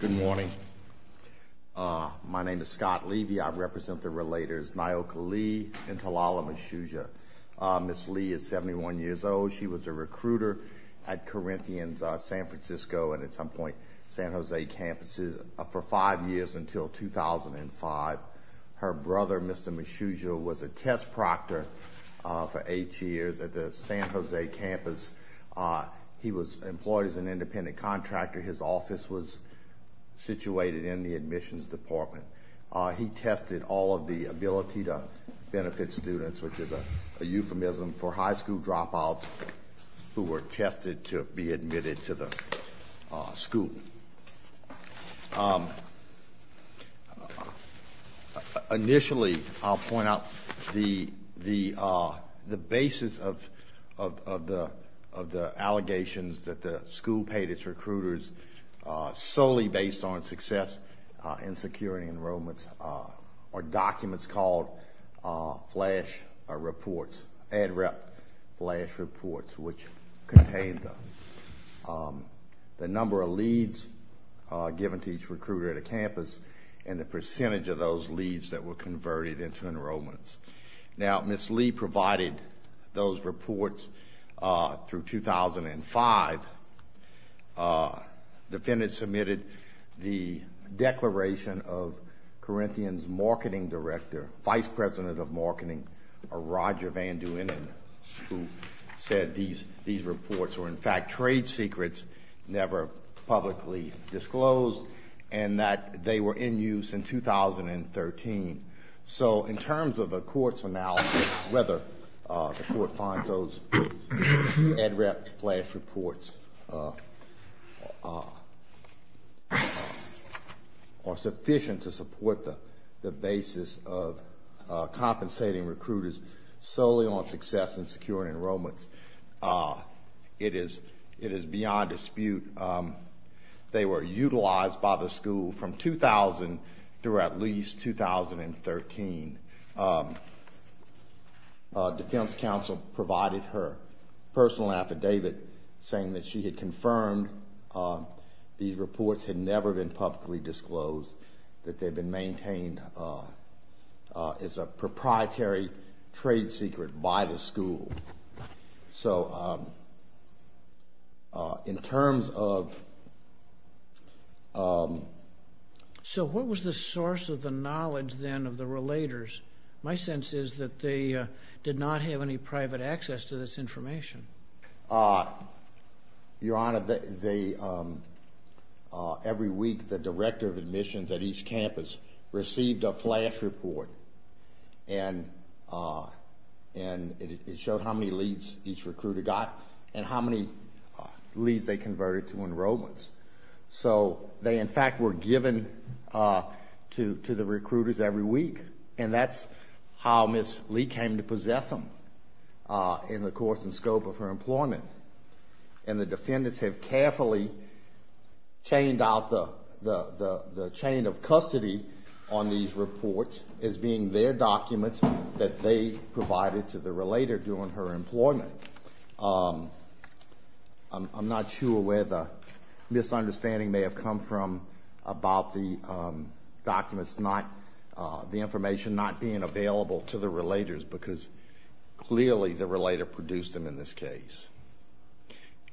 Good morning. My name is Scott Levy. I represent the relators Nyoka Lee and Talala Meshuja. Ms. Lee is 71 years old. She was a recruiter at Corinthian's San Francisco and at some point San Jose campuses for five years until 2005. Her brother Mr. Meshuja was a test proctor for eight years at the San Jose campus. He was employed as an independent contractor. His office was situated in the admissions department. He tested all of the ability to benefit students, which is a euphemism for high school dropouts who were tested to be admitted to the school. Initially I'll point out the basis of the allegations that the school paid its recruiters solely based on success and security enrollments are documents called flash reports, ad-rep flash reports, which contained the number of leads given to each recruiter at a campus and the percentage of those leads that were converted into those reports through 2005. Defendants submitted the declaration of Corinthian's marketing director, vice president of marketing, Roger Van Duenen, who said these reports were in fact trade secrets, never publicly disclosed, and that they were in use in 2013. So in terms of the court's analysis, whether the court finds those ad-rep flash reports are sufficient to support the basis of compensating recruiters solely on success and security enrollments, it is beyond dispute. They were utilized by the school from 2000 through at least 2013. Defense counsel provided her personal affidavit saying that she had confirmed these reports had never been publicly disclosed, that they've been maintained as a proprietary trade secret by the school. So in terms of... So what was the source of the knowledge then of the relators? My sense is that they did not have any private access to this information. Your Honor, every week the director of admissions at each campus received a flash report and it showed how many leads each recruiter got and how many leads they converted to the recruiters every week. And that's how Ms. Lee came to possess them in the course and scope of her employment. And the defendants have carefully chained out the chain of custody on these reports as being their documents that they provided to the relator during her employment. I'm not sure where the documents, the information not being available to the relators because clearly the relator produced them in this case.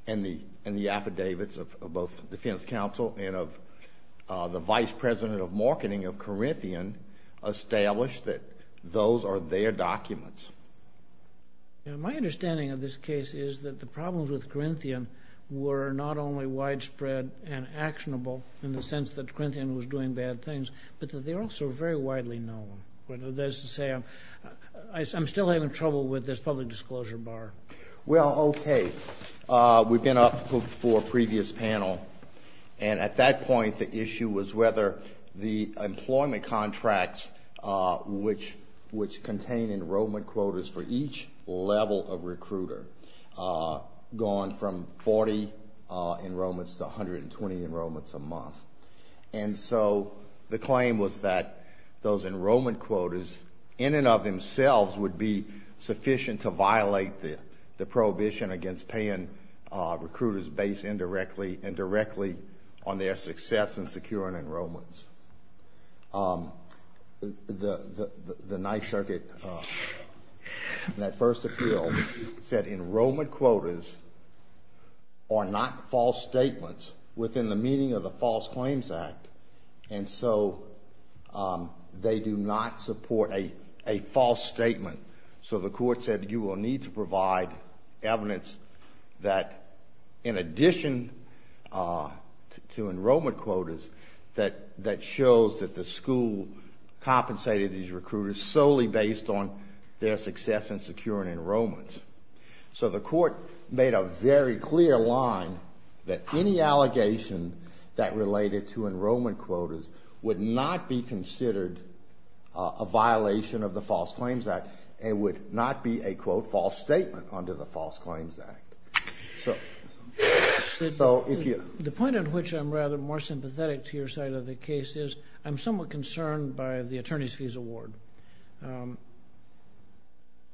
And the affidavits of both defense counsel and of the vice president of marketing of Corinthian established that those are their documents. My understanding of this case is that the problems with Corinthian were not only widespread and actionable in the sense that Corinthian was doing bad things, but that they're also very widely known. Whether that's to say, I'm still having trouble with this public disclosure bar. Well, okay. We've been up for a previous panel and at that point the issue was whether the employment contracts which contain enrollment quotas for each level of recruiter, gone from 40 enrollments to 40 a month. And so the claim was that those enrollment quotas in and of themselves would be sufficient to violate the prohibition against paying recruiters base indirectly and directly on their success in securing enrollments. The Ninth Circuit in that first appeal said enrollment quotas are not false statements within the meaning of the False Claims Act. And so they do not support a false statement. So the court said you will need to provide evidence that in addition to enrollment quotas that shows that the school compensated these recruiters solely based on their success in securing enrollments. So the any allegation that related to enrollment quotas would not be considered a violation of the False Claims Act. It would not be a quote false statement under the False Claims Act. So if you... The point at which I'm rather more sympathetic to your side of the case is I'm somewhat concerned by the attorney's fees award.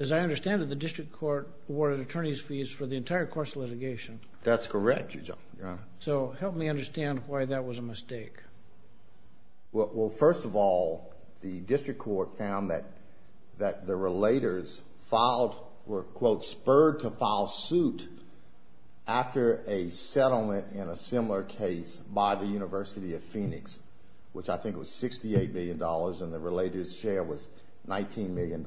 As I understand it, the district court awarded attorney's fees for the entire course of litigation. That's correct, Your Honor. So help me understand why that was a mistake. Well, first of all, the district court found that that the relators filed were, quote, spurred to file suit after a settlement in a similar case by the University of Phoenix, which I think was $68 million and the relators share was $19 million.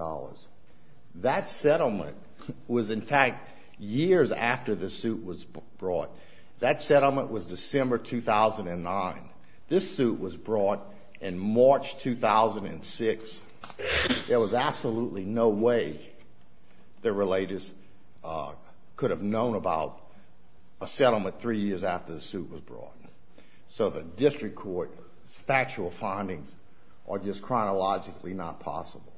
That settlement was, in years after the suit was brought. That settlement was December 2009. This suit was brought in March 2006. There was absolutely no way the relators could have known about a settlement three years after the suit was brought. So the district court's factual findings are just chronologically not possible.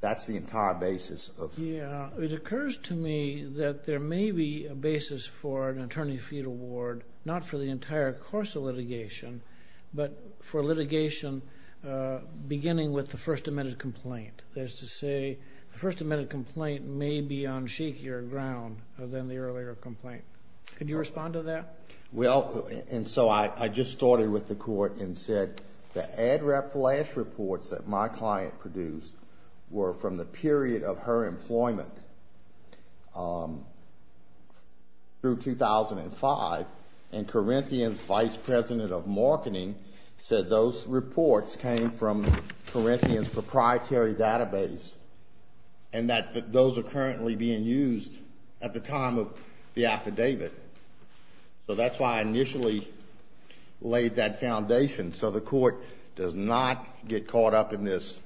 That's the entire basis of... Yeah, it occurs to me that there may be a basis for an attorney's fee award, not for the entire course of litigation, but for litigation beginning with the first amended complaint. That is to say, the first amended complaint may be on shakier ground than the earlier complaint. Could you respond to that? Well, and so I just started with the court and said the direct flash reports that my client produced were from the period of her employment through 2005 and Corinthian's vice president of marketing said those reports came from Corinthian's proprietary database and that those are currently being used at the time of the affidavit. So that's why I initially laid that foundation so the court does not get caught up in this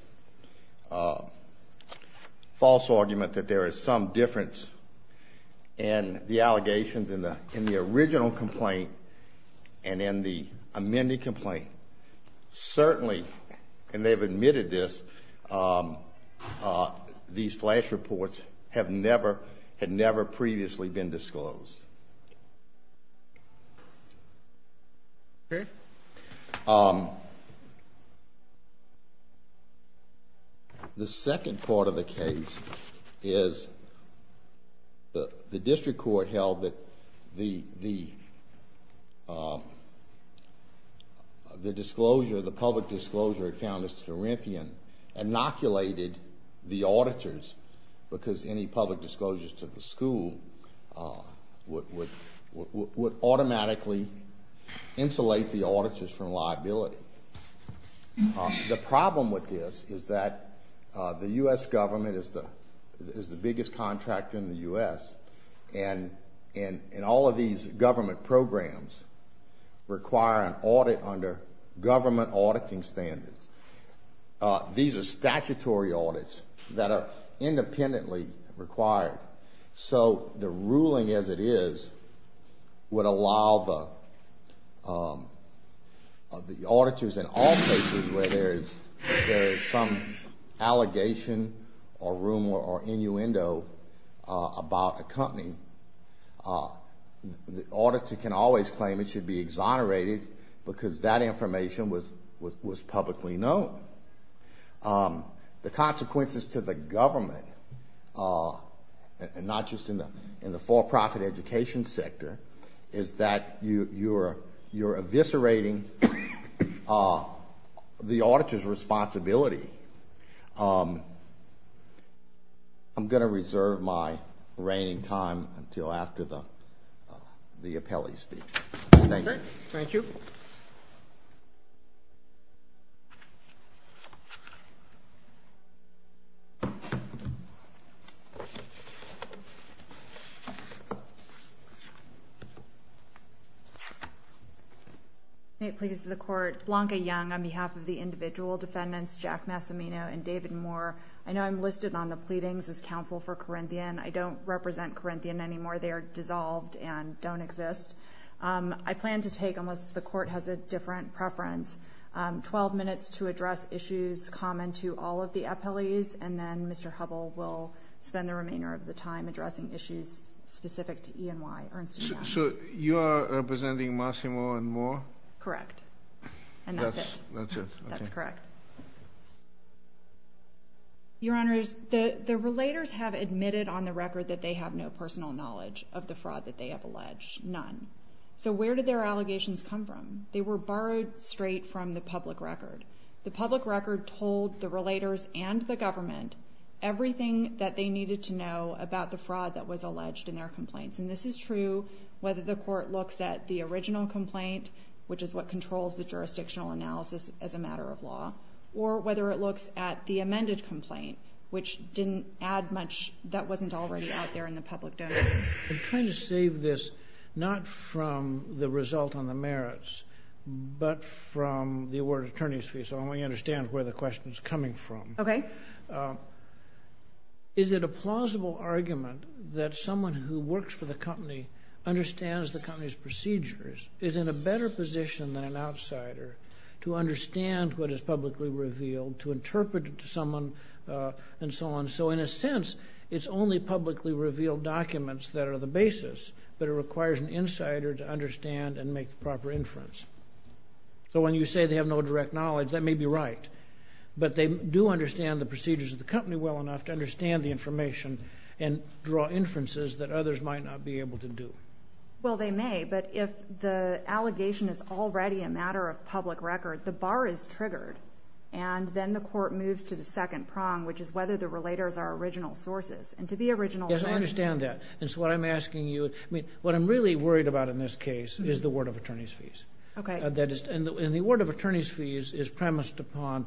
false argument that there is some difference in the allegations in the original complaint and in the amended complaint. Certainly, and they've admitted this, these are false. Okay. The second part of the case is the district court held that the disclosure, the public disclosure, had found that Corinthian inoculated the auditors because any public disclosures to the school would automatically insulate the auditors from liability. The problem with this is that the U.S. government is the biggest contractor in the U.S. and all of these government programs require an audit under government auditing standards. These are statutory audits that are independently required, so the auditors in all cases where there is some allegation or rumor or innuendo about a company, the auditor can always claim it should be exonerated because that information was publicly known. The consequences to the government, not just in the for-profit education sector, is that you're eviscerating the auditor's responsibility. I'm going to reserve my reigning time until after the the appellee speech. Thank you. May it please the Court. Blanca Young on behalf of the individual defendants, Jack Massimino and David Moore. I know I'm listed on the pleadings as counsel for Corinthian. I don't represent Corinthian anymore. They are dissolved and don't exist. I plan to take, unless the court has a different preference, 12 minutes to address issues common to all of the appellees and then Mr. Hubbell will spend the remainder of the time addressing issues specific to E&Y. So you are representing Massimino and Moore? Correct. That's correct. Your Honors, the the relators have admitted on the record that they have no personal knowledge of the fraud that they have alleged. None. So where did their allegations come from? They were borrowed straight from the public record. The public record told the relators and the government everything that they needed to know about the fraud that was alleged in their complaints. And this is true whether the court looks at the original complaint, which is what controls the jurisdictional analysis as a matter of law, or whether it looks at the amended complaint, which didn't add much that wasn't already out there in the public domain. I'm trying to save this not from the result on the merits, but from the award attorney's fee, so I understand where the Is it a plausible argument that someone who works for the company understands the company's procedures, is in a better position than an outsider to understand what is publicly revealed, to interpret it to someone, and so on. So in a sense it's only publicly revealed documents that are the basis, but it requires an insider to understand and make the proper inference. So when you say they have no direct knowledge, that may be right, but they do understand the company well enough to understand the information and draw inferences that others might not be able to do. Well they may, but if the allegation is already a matter of public record, the bar is triggered, and then the court moves to the second prong, which is whether the relators are original sources. And to be original sources... Yes, I understand that. And so what I'm asking you, I mean, what I'm really worried about in this case is the award of attorney's fees. Okay. And the award of attorney's fees is premised upon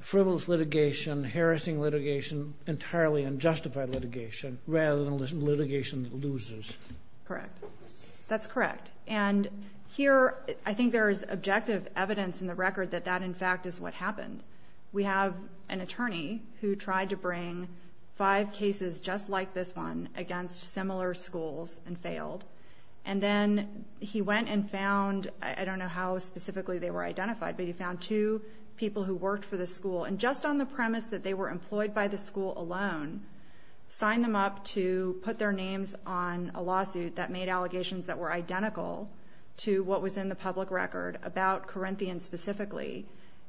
frivolous litigation, harassing litigation, entirely unjustified litigation, rather than litigation that loses. Correct. That's correct. And here I think there is objective evidence in the record that that in fact is what happened. We have an attorney who tried to bring five cases just like this one against similar schools and failed, and then he went and found, I don't know how specifically they were identified, but he found two people who worked for the school, and just on the premise that they were employed by the school alone, signed them up to put their names on a lawsuit that made allegations that were identical to what was in the public record about Corinthian specifically.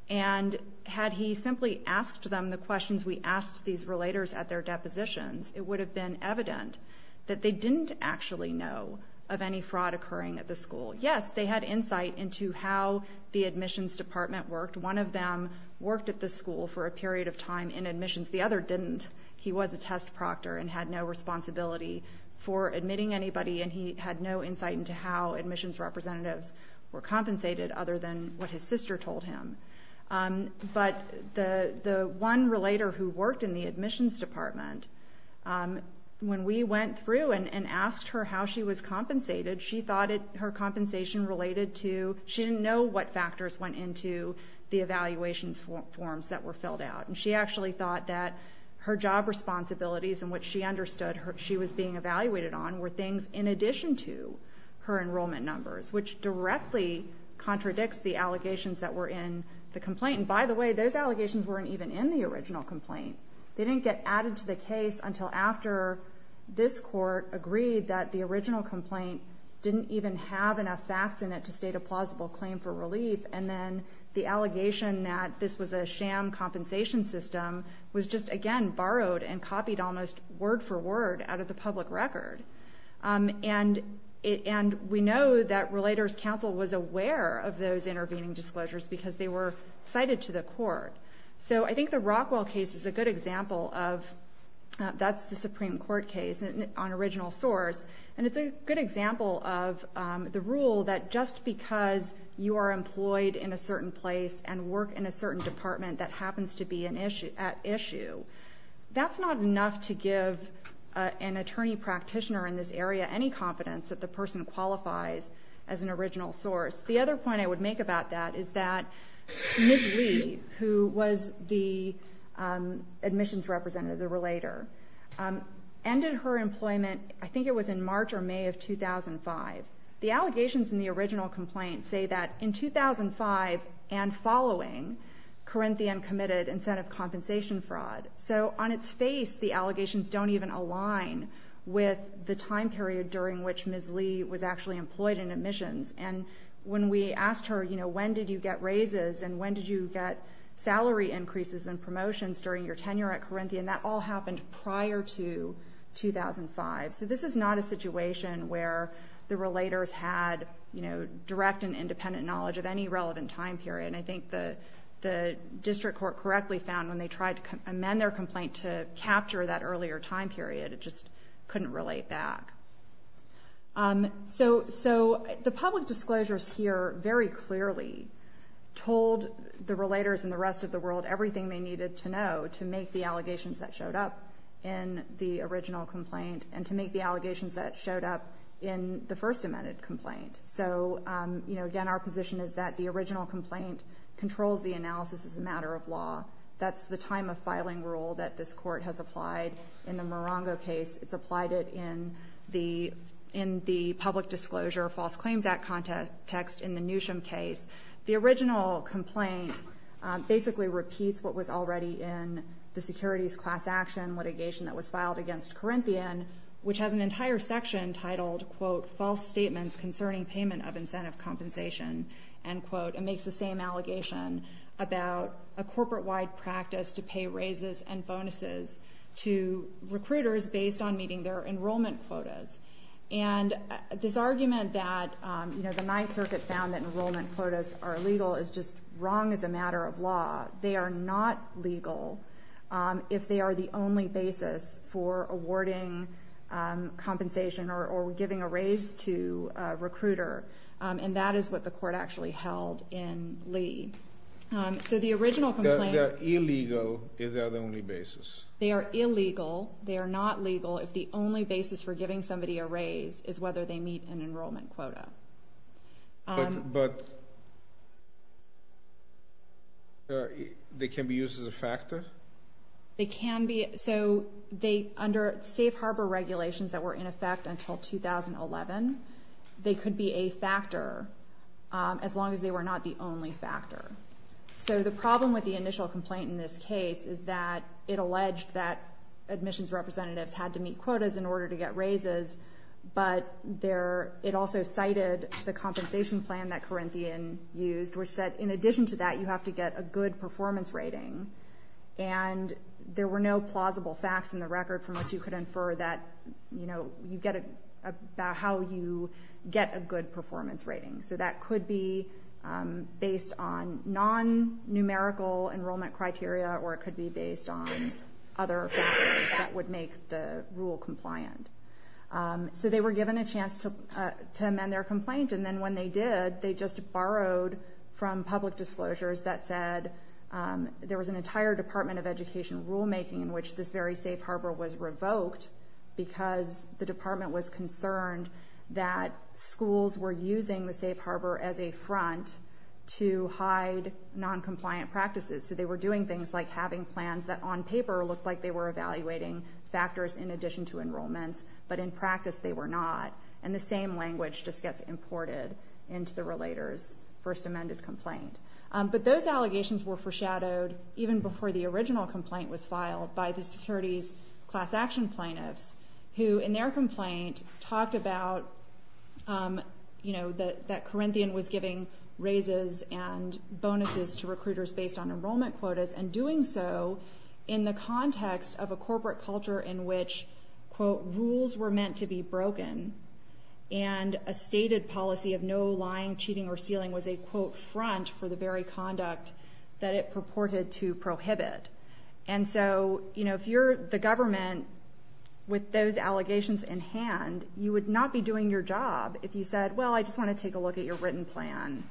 And had he simply asked them the questions we asked these relators at their depositions, it would have been evident that they didn't actually know of any fraud occurring at the school. Yes, they had insight into how the admissions department worked. One of them worked at the school for a period of time in admissions. The other didn't. He was a test proctor and had no responsibility for admitting anybody, and he had no insight into how admissions representatives were compensated other than what his sister told him. But the one relator who worked in the admissions department, when we went through and asked her how she was compensated, she thought her compensation related to, she didn't know what factors went into the evaluations forms that were filled out. And she actually thought that her job responsibilities and what she understood she was being evaluated on were things in addition to her enrollment numbers, which directly contradicts the allegations that were in the complaint. And by the way, those allegations weren't even in the original complaint. They didn't get added to the case until after this court agreed that the original complaint didn't even have enough facts in it to state a plausible claim for relief. And then the allegation that this was a sham compensation system was just again borrowed and copied almost word for word out of the public record. Um, and and we know that Relators Council was aware of those intervening disclosures because they were cited to the court. So I think the Rockwell case is a good example of that's the Supreme Court case on original source. And it's a good example of the rule that just because you are employed in a certain place and work in a certain department that happens to be an issue at issue, that's not enough to give an attorney practitioner in this area any confidence that the person qualifies as an original source. The other point I want to make is that Ms. Lee, who was the admissions representative, the relator, ended her employment, I think it was in March or May of 2005. The allegations in the original complaint say that in 2005 and following, Corinthian committed incentive compensation fraud. So on its face, the allegations don't even align with the time period during which Ms. Lee was actually employed in admissions. And when we asked her, you know, when did you get raises? And when did you get salary increases and promotions during your tenure at Corinthian? That all happened prior to 2005. So this is not a situation where the relators had, you know, direct and independent knowledge of any relevant time period. And I think the the district court correctly found when they tried to amend their complaint to capture that earlier time period, it just couldn't relate back. Um, so so the public disclosures here very clearly told the relators and the rest of the world everything they needed to know to make the allegations that showed up in the original complaint and to make the allegations that showed up in the first amended complaint. So, um, you know, again, our position is that the original complaint controls the analysis is a matter of law. That's the time of filing rule that this court has applied in the Morongo case. It's applied it in the in the public disclosure of False Claims Act context in the Newsom case. The original complaint basically repeats what was already in the securities class action litigation that was filed against Corinthian, which has an entire section titled, quote, false statements concerning payment of incentive compensation and quote, it makes the same allegation about a corporate wide practice to pay raises and bonuses to recruiters based on meeting their enrollment quotas. And this argument that, you know, the Ninth Circuit found that enrollment quotas are legal is just wrong as a matter of law. They are not legal if they are the only basis for awarding compensation or giving a raise to recruiter. Um, and that is what the court actually held in Lee. Um, so the original illegal is the only basis. They are illegal. They are not legal if the only basis for giving somebody a raise is whether they meet an enrollment quota. Um, but they can be used as a factor. They can be. So they, under safe harbor regulations that were in effect until 2011, they could be a factor. Um, as the problem with the initial complaint in this case is that it alleged that admissions representatives had to meet quotas in order to get raises. But there, it also cited the compensation plan that Corinthian used, which said, in addition to that, you have to get a good performance rating. And there were no plausible facts in the record from which you could infer that, you know, you get about how you get a good performance rating. So that could be, um, based on non numerical enrollment criteria, or it could be based on other factors that would make the rule compliant. Um, so they were given a chance to, uh, to amend their complaint. And then when they did, they just borrowed from public disclosures that said, um, there was an entire Department of Education rulemaking in which this very safe harbor was revoked because the department was concerned that schools were using the safe harbor as a front to hide non compliant practices. So they were doing things like having plans that on paper looked like they were evaluating factors in addition to enrollments, but in practice they were not. And the same language just gets imported into the relators first amended complaint. Um, but those allegations were foreshadowed even before the original complaint was filed by the securities class action plaintiffs, who in their complaint talked about, um, you know, that that Corinthian was giving raises and bonuses to recruiters based on enrollment quotas and doing so in the context of a corporate culture in which, quote, rules were meant to be broken. And a stated policy of no lying, cheating or stealing was a quote front for the very conduct that it purported to prohibit. And so, you know, if you're the government with those allegations in hand, you would not be doing your job if you said, Well, I just want to take a look at your written plan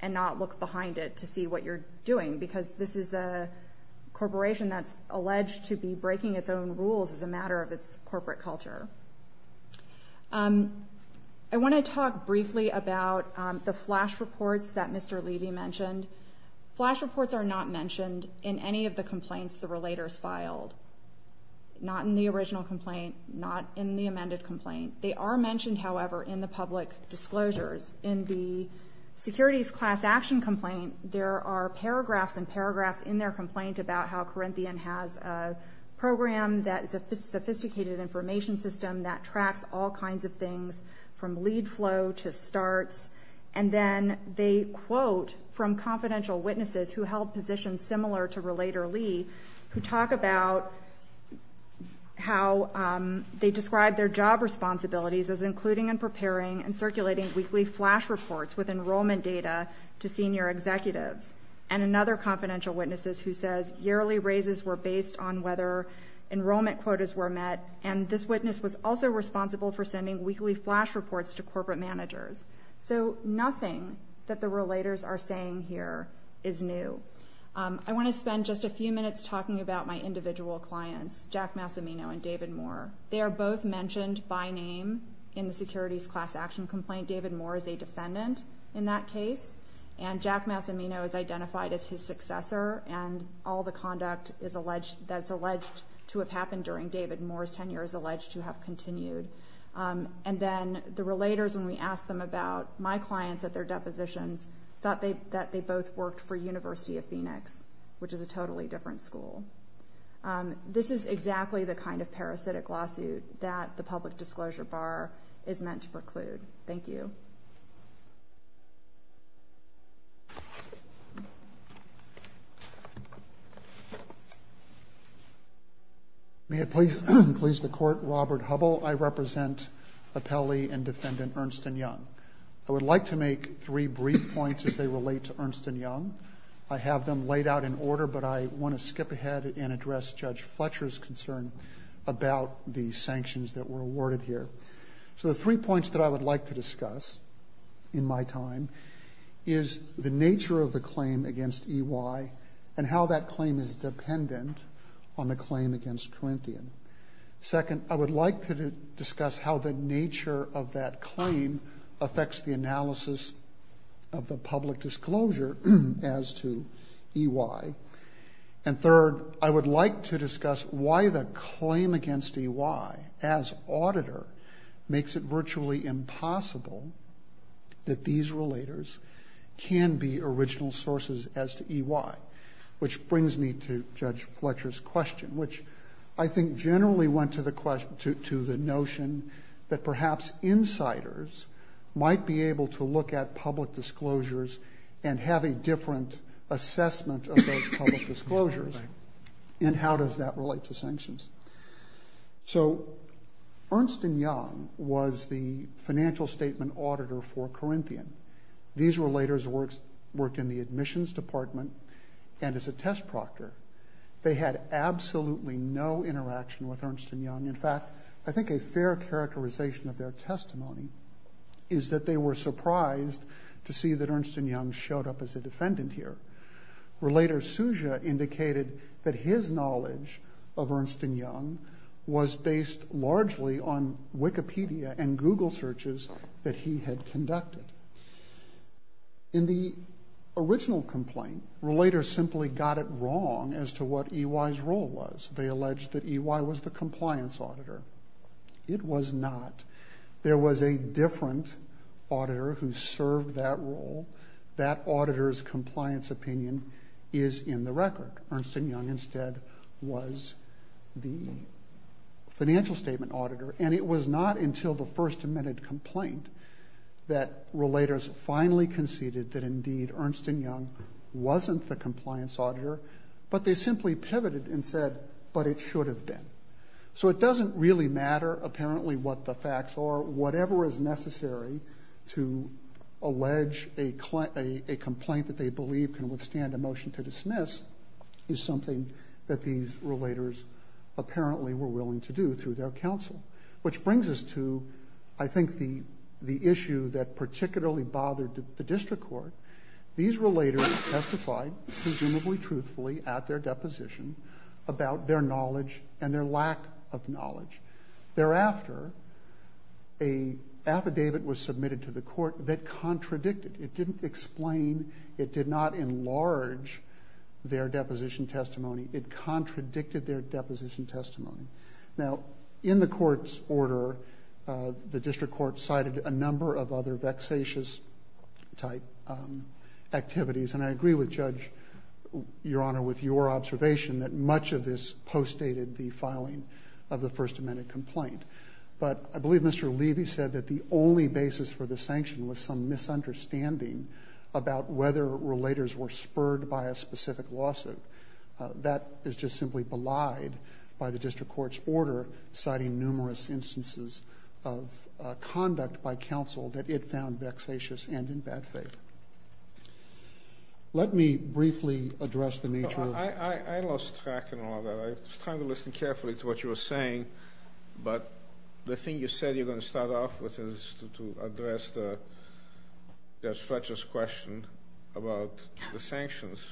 and not look behind it to see what you're doing. Because this is a corporation that's alleged to be breaking its own rules as a matter of its corporate culture. Um, I want to talk briefly about the flash reports that Mr Levy mentioned. Flash reports are not mentioned in any of the complaints. The relators filed not in the original complaint, not in the amended complaint. They are mentioned, however, in the public disclosures. In the securities class action complaint, there are paragraphs and paragraphs in their complaint about how Corinthian has a program that sophisticated information system that tracks all kinds of things from lead flow to starts. And then they quote from confidential witnesses who held positions similar to Relator Lee, who talk about how they described their job responsibilities as including and preparing and circulating weekly flash reports with enrollment data to senior executives and another confidential witnesses who says yearly raises were based on whether enrollment quotas were met. And this witness was also responsible for sending weekly flash reports to corporate managers. So nothing that the relators are saying here is new. I want to spend just a few minutes talking about my individual clients, Jack Massimino and David Moore. They are both mentioned by name in the securities class action complaint. David Moore is a defendant in that case, and Jack Massimino is identified as his successor and all the conduct is alleged that's alleged to have happened during David Moore's tenure is alleged to have continued. Um, and then the relators, when we asked them about my clients at their depositions, thought they that they both worked for University of Phoenix, which is a school. Um, this is exactly the kind of parasitic lawsuit that the public disclosure bar is meant to preclude. Thank you. May it please please the court. Robert Hubble. I represent a Pele and defendant, Ernst and Young. I would like to make three brief points as they skip ahead and address Judge Fletcher's concern about the sanctions that were awarded here. So the three points that I would like to discuss in my time is the nature of the claim against E. Y. And how that claim is dependent on the claim against Corinthian. Second, I would like to discuss how the nature of that claim affects the analysis of the public disclosure as to E. Y. And third, I would like to discuss why the claim against E. Y. As auditor makes it virtually impossible that these relators can be original sources as to E. Y. Which brings me to Judge Fletcher's question, which I think generally went to the question to the notion that perhaps insiders might be able to look at public disclosures and have a different assessment of those public disclosures. And how does that relate to sanctions? So Ernst and Young was the financial statement auditor for Corinthian. These relators works worked in the admissions department and as a test proctor, they had absolutely no interaction with Ernst and Young. In I think a fair characterization of their testimony is that they were surprised to see that Ernst and Young showed up as a defendant here. Relator Suja indicated that his knowledge of Ernst and Young was based largely on Wikipedia and Google searches that he had conducted. In the original complaint, relators simply got it wrong as to what E. Y.'s role was. They alleged that E. Y. was the compliance auditor. It was not. There was a different auditor who served that role. That auditor's compliance opinion is in the record. Ernst and Young instead was the financial statement auditor. And it was not until the first amended complaint that relators finally conceded that indeed Ernst and Young wasn't the compliance auditor, but they simply pivoted and said, but it should have been. So it doesn't really matter apparently what the facts are. Whatever is necessary to allege a complaint that they believe can withstand a motion to dismiss is something that these relators apparently were willing to do through their counsel. Which brings us to, I think, the issue that particularly bothered the district court. These relators testified presumably truthfully at their deposition about their knowledge and their lack of knowledge. Thereafter, a affidavit was submitted to the court that contradicted. It didn't explain. It did not enlarge their deposition testimony. It contradicted their deposition testimony. Now, in the court's order, the district court cited a number of other vexatious type activities. And I agree with Judge, Your observation that much of this post dated the filing of the first amendment complaint. But I believe Mr Levy said that the only basis for the sanction was some misunderstanding about whether relators were spurred by a specific lawsuit. That is just simply belied by the district court's order, citing numerous instances of conduct by counsel that it found vexatious and in bad faith. Let me briefly address the nature of... I lost track in all of that. I was trying to listen carefully to what you were saying. But the thing you said you're going to start off with is to address the Judge Fletcher's question about the sanctions.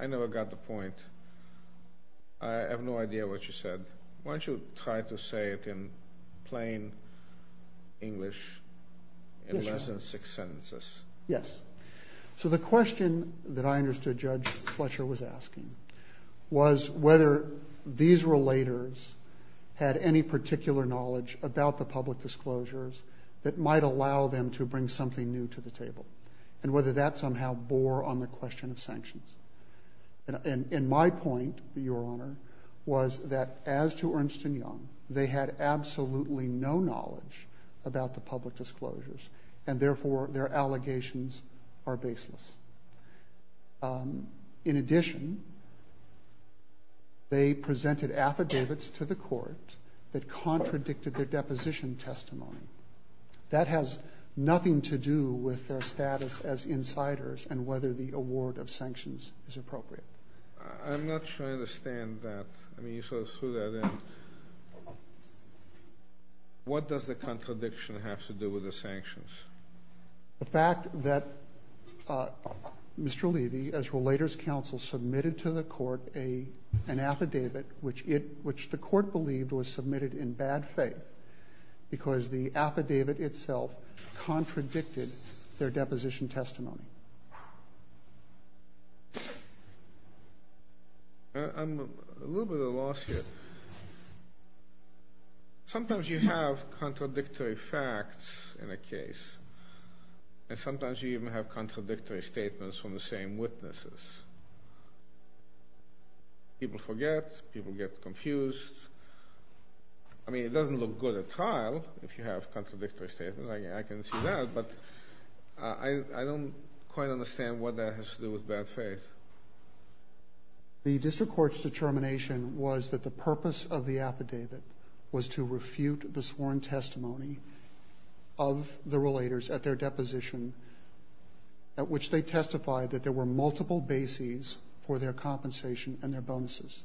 I never got the point. I have no idea what you said. Why don't you try to say it in plain English in less than six sentences? Yes. So the question that I understood Judge Fletcher was asking was whether these relators had any particular knowledge about the public disclosures that might allow them to bring something new to the table and whether that somehow bore on the question of sanctions. And in my point, Your Honor, was that as to Ernst & Young, they had absolutely no knowledge about the public disclosures and therefore their allegations are baseless. In addition, they presented affidavits to the court that contradicted their deposition testimony. That has nothing to do with their status as insiders and whether the award of sanctions is appropriate. I'm not sure I understand that. I mean you sort of threw that in. What does the fact that Mr. Levy, as Relator's Counsel, submitted to the court an affidavit which the court believed was submitted in bad faith because the affidavit itself contradicted their deposition testimony? I'm a little bit at a loss here. Sometimes you have contradictory facts in a case and sometimes you even have contradictory statements from the same witnesses. People forget, people get confused. I mean it doesn't look good at trial if you have quite understand what that has to do with bad faith. The district court's determination was that the purpose of the affidavit was to refute the sworn testimony of the Relators at their deposition at which they testified that there were multiple bases for their compensation and their bonuses.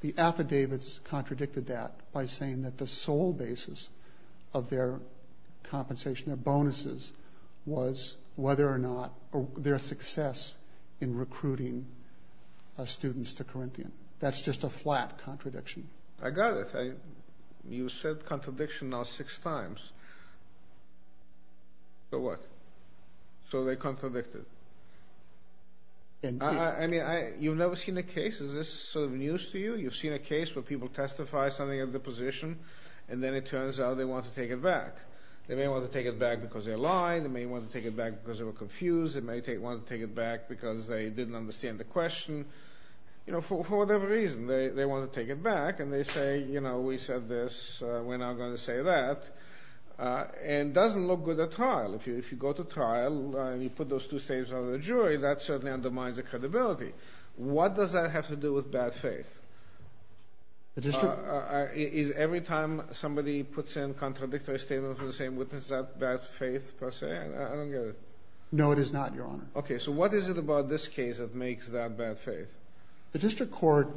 The affidavits contradicted that by saying that the sole basis of their bonuses was whether or not their success in recruiting students to Corinthian. That's just a flat contradiction. I got it. You said contradiction now six times. So what? So they contradicted. I mean you've never seen a case. Is this sort of news to you? You've seen a case where people testify something at the position and then it turns out they want to take it back. They want to take it back because they're lying. They may want to take it back because they were confused. They may want to take it back because they didn't understand the question. You know for whatever reason they want to take it back and they say you know we said this we're not going to say that. And it doesn't look good at trial. If you go to trial and you put those two statements on the jury that certainly undermines the credibility. What does that have to do with bad faith? Every time somebody puts in contradictory statements is that bad faith per se? No it is not your honor. Okay so what is it about this case that makes that bad faith? The district court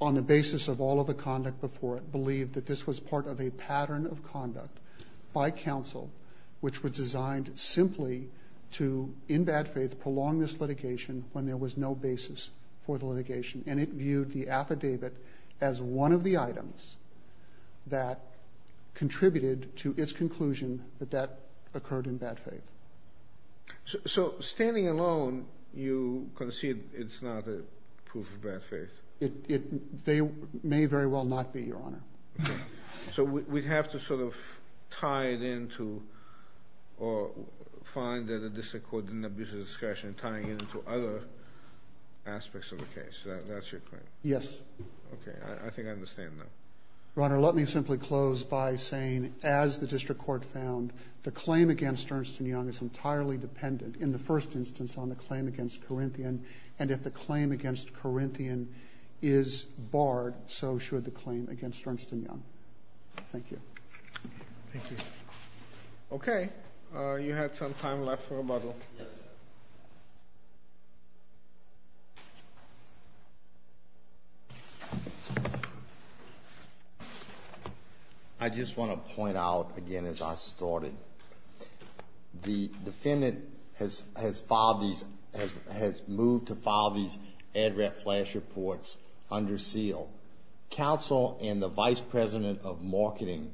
on the basis of all of the conduct before it believed that this was part of a pattern of conduct by counsel which was designed simply to in bad faith prolong this litigation when there was no basis for the litigation. And it viewed the affidavit as one of the items that contributed to its conclusion that that occurred in bad faith. So standing alone you concede it's not a proof of bad faith? It they may very well not be your honor. So we have to sort of tie it into or find that the district court didn't abuse the discretion tying it into other aspects of the case. That's your claim? Yes. Okay I think I understand that. Your honor let me simply close by saying as the district court found the claim against Ernst and Young is entirely dependent in the first instance on the claim against Corinthian and if the claim against Corinthian is barred so should the claim against Ernst and Young. Thank you. Okay you had some time left for rebuttal. I just want to point out again as I started the defendant has has filed these has moved to file these ad rep flash reports under seal. Counsel and the vice president of marketing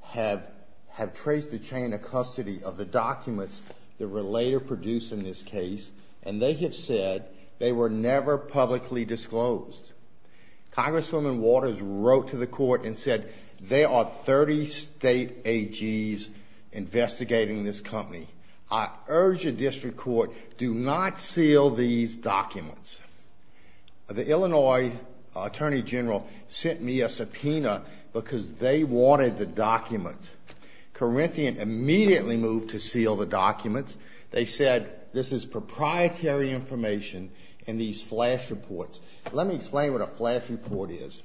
have have traced the chain of custody of the documents that were later produced in this case and they have said they were never publicly disclosed. Congresswoman Waters wrote to the court and said there are 30 state AGs investigating this company. I urge the district court do not seal these documents. The Illinois Attorney General sent me a subpoena because they wanted the documents. Corinthian immediately moved to seal the flash reports. Let me explain what a flash report is.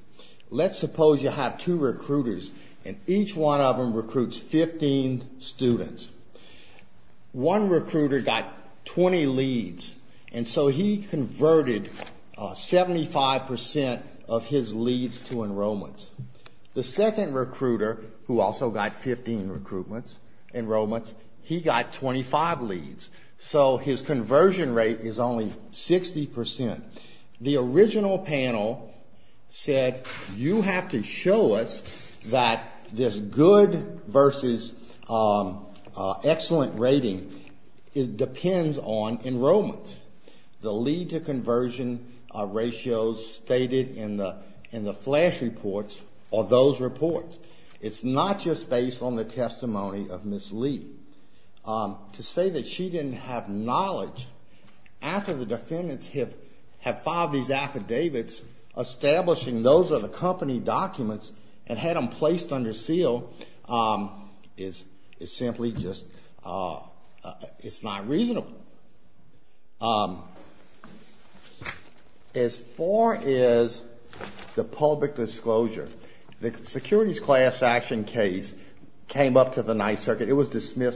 Let's suppose you have two recruiters and each one of them recruits 15 students. One recruiter got 20 leads and so he converted 75% of his leads to enrollments. The second recruiter who also got 15 recruitments enrollments he got 25 leads so his enrollment. The original panel said you have to show us that this good versus excellent rating depends on enrollment. The lead to conversion ratios stated in the in the flash reports are those reports. It's not just based on the testimony of Ms. Lee. To say that she didn't have knowledge after the have filed these affidavits establishing those are the company documents and had them placed under seal is simply just it's not reasonable. As far as the public disclosure, the securities class action case came up to the Ninth Circuit. It was defended,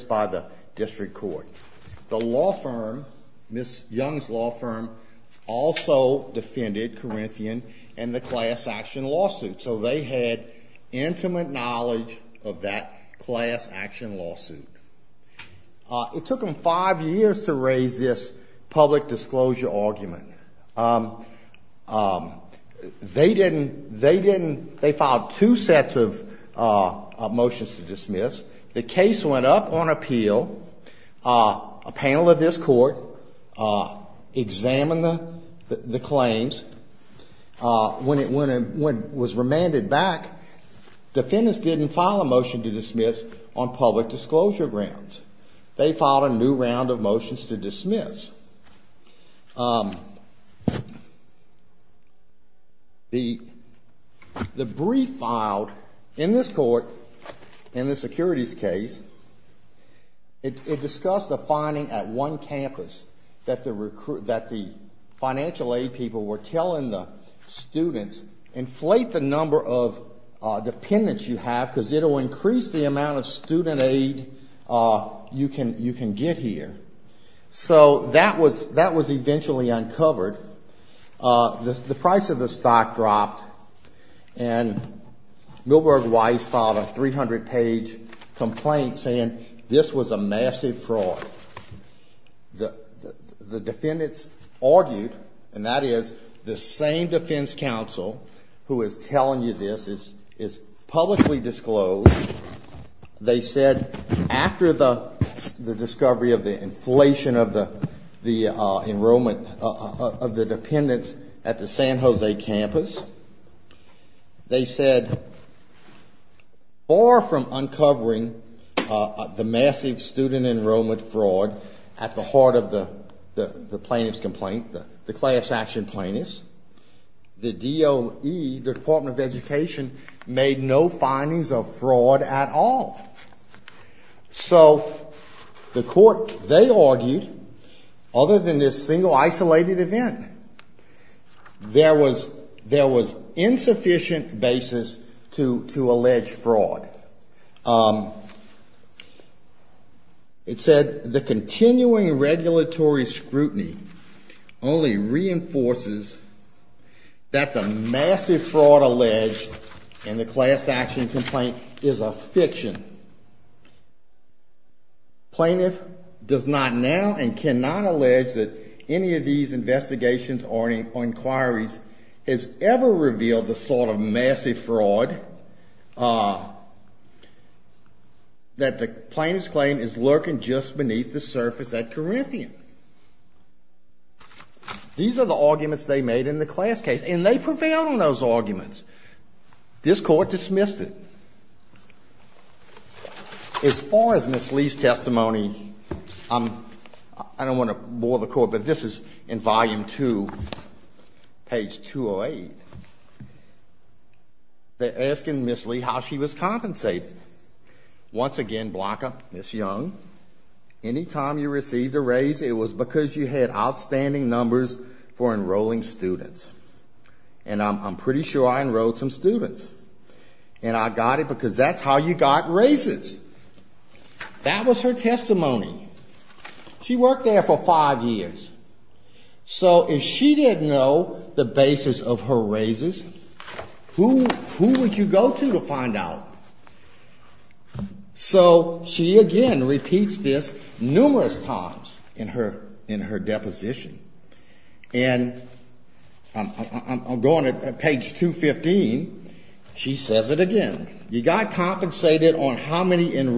Corinthian and the class action lawsuit. So they had intimate knowledge of that class action lawsuit. It took them five years to raise this public disclosure argument. They didn't they didn't they filed two sets of motions to dismiss. The case went up on appeal. A panel of this court examined the claims. When it was remanded back, defendants didn't file a motion to dismiss on public disclosure grounds. They filed a new round of motions to dismiss. The brief filed in this court in the securities case, it discussed a that the financial aid people were telling the students inflate the number of dependents you have because it will increase the amount of student aid you can you can get here. So that was that was eventually uncovered. The price of the stock dropped and Milberg Weiss filed a 300 page complaint saying this was a massive fraud. The defendants argued and that is the same defense counsel who is telling you this is is publicly disclosed. They said after the discovery of the inflation of the enrollment of the dependents at the San Francisco State University, the DOE made no findings of fraud at all. So the court they argued other than this single isolated event, there was there was it said the continuing regulatory scrutiny only reinforces that the massive fraud alleged in the class action complaint is a fiction. Plaintiff does not now and cannot allege that any of these investigations or inquiries has ever revealed the sort of massive fraud that the plaintiff's claim is lurking just beneath the surface at Corinthian. These are the arguments they made in the class case and they prevailed on those arguments. This court dismissed it. As far as Ms. Lee's testimony, I don't want to bore the court, but this is in volume two, page 208. They're asking Ms. Lee how she was compensated. Once again, Blanca, Ms. Young, anytime you received a raise, it was because you had outstanding numbers for enrolling students. And I'm pretty sure I enrolled some students. And I got it because that's how you got raises. That was her years. So if she didn't know the basis of her raises, who would you go to to find out? So she again repeats this numerous times in her in her deposition. And I'm going to page 215. She says it again. You got compensated on how many years of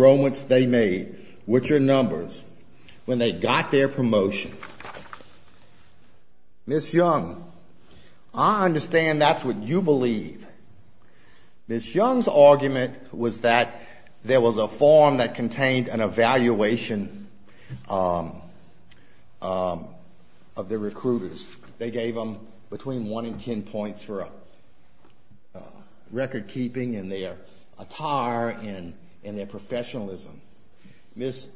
promotion. Ms. Young, I understand that's what you believe. Ms. Young's argument was that there was a form that contained an evaluation of the recruiters. They gave them between one and ten points for record keeping and attire and their professionalism. Ms.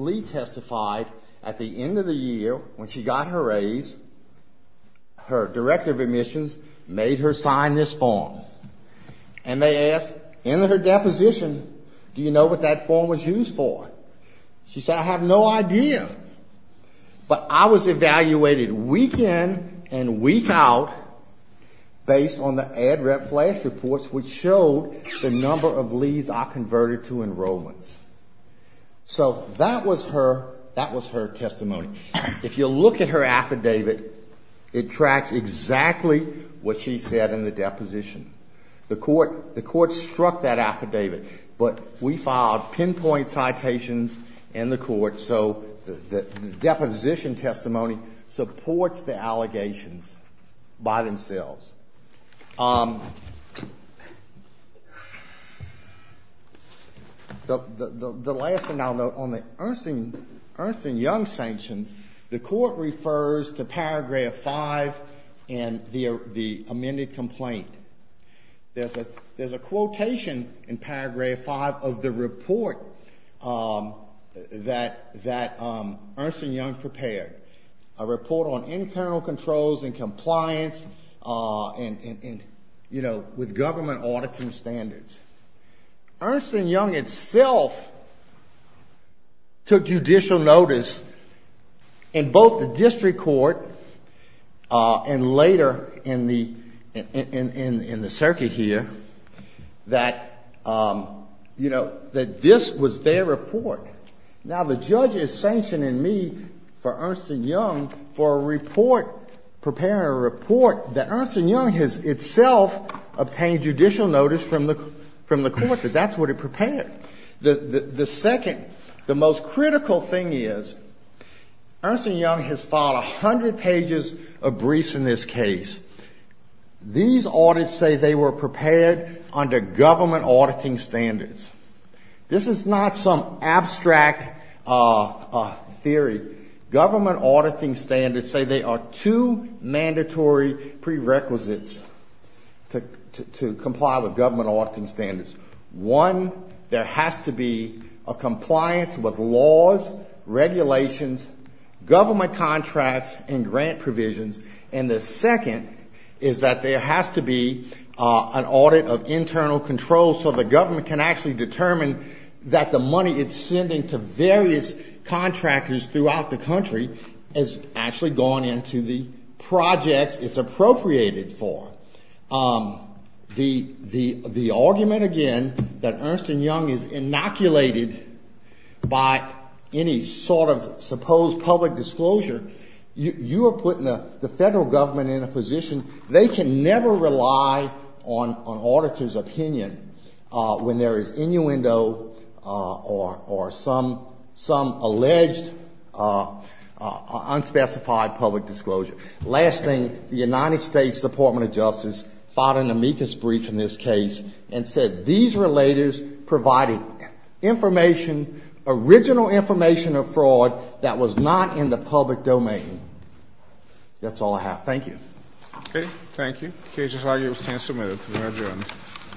Lee testified at the end of the year when she got her raise, her director of admissions made her sign this form. And they asked in her deposition, do you know what that form was used for? She said, I have no idea. But I was evaluated week in and week out based on ad rep flash reports, which showed the number of leads I converted to enrollments. So that was her testimony. If you look at her affidavit, it tracks exactly what she said in the deposition. The court struck that affidavit, but we filed pinpoint citations in the court. So the deposition testimony supports the allegations by themselves. The last thing I'll note, on the Ernst and Young sanctions, the court refers to paragraph 5 in the amended complaint. There's a quotation in paragraph 5 of the report that Ernst and Young did, a report on internal controls and compliance and, you know, with government auditing standards. Ernst and Young itself took judicial notice in both the district court and later in the circuit here that, you know, the judge is sanctioning me for Ernst and Young for preparing a report that Ernst and Young has itself obtained judicial notice from the court that that's what it prepared. The second, the most critical thing is, Ernst and Young has filed 100 pages of briefs in this case. These audits say they were under government auditing standards. This is not some abstract theory. Government auditing standards say they are two mandatory prerequisites to comply with government auditing standards. One, there has to be a compliance with laws, regulations, government contracts and grant provisions, and the other, there has to be an audit of internal controls so the government can actually determine that the money it's sending to various contractors throughout the country has actually gone into the projects it's appropriated for. The argument, again, that Ernst and Young is inoculated by any sort of supposed public disclosure, you are putting the federal government in a position they can never rely on an auditor's opinion when there is innuendo or some alleged unspecified public disclosure. Last thing, the United States Department of Justice filed an amicus brief in this case and said these relators provided information, original information of fraud that was not in the public domain. That's all I have. Thank you.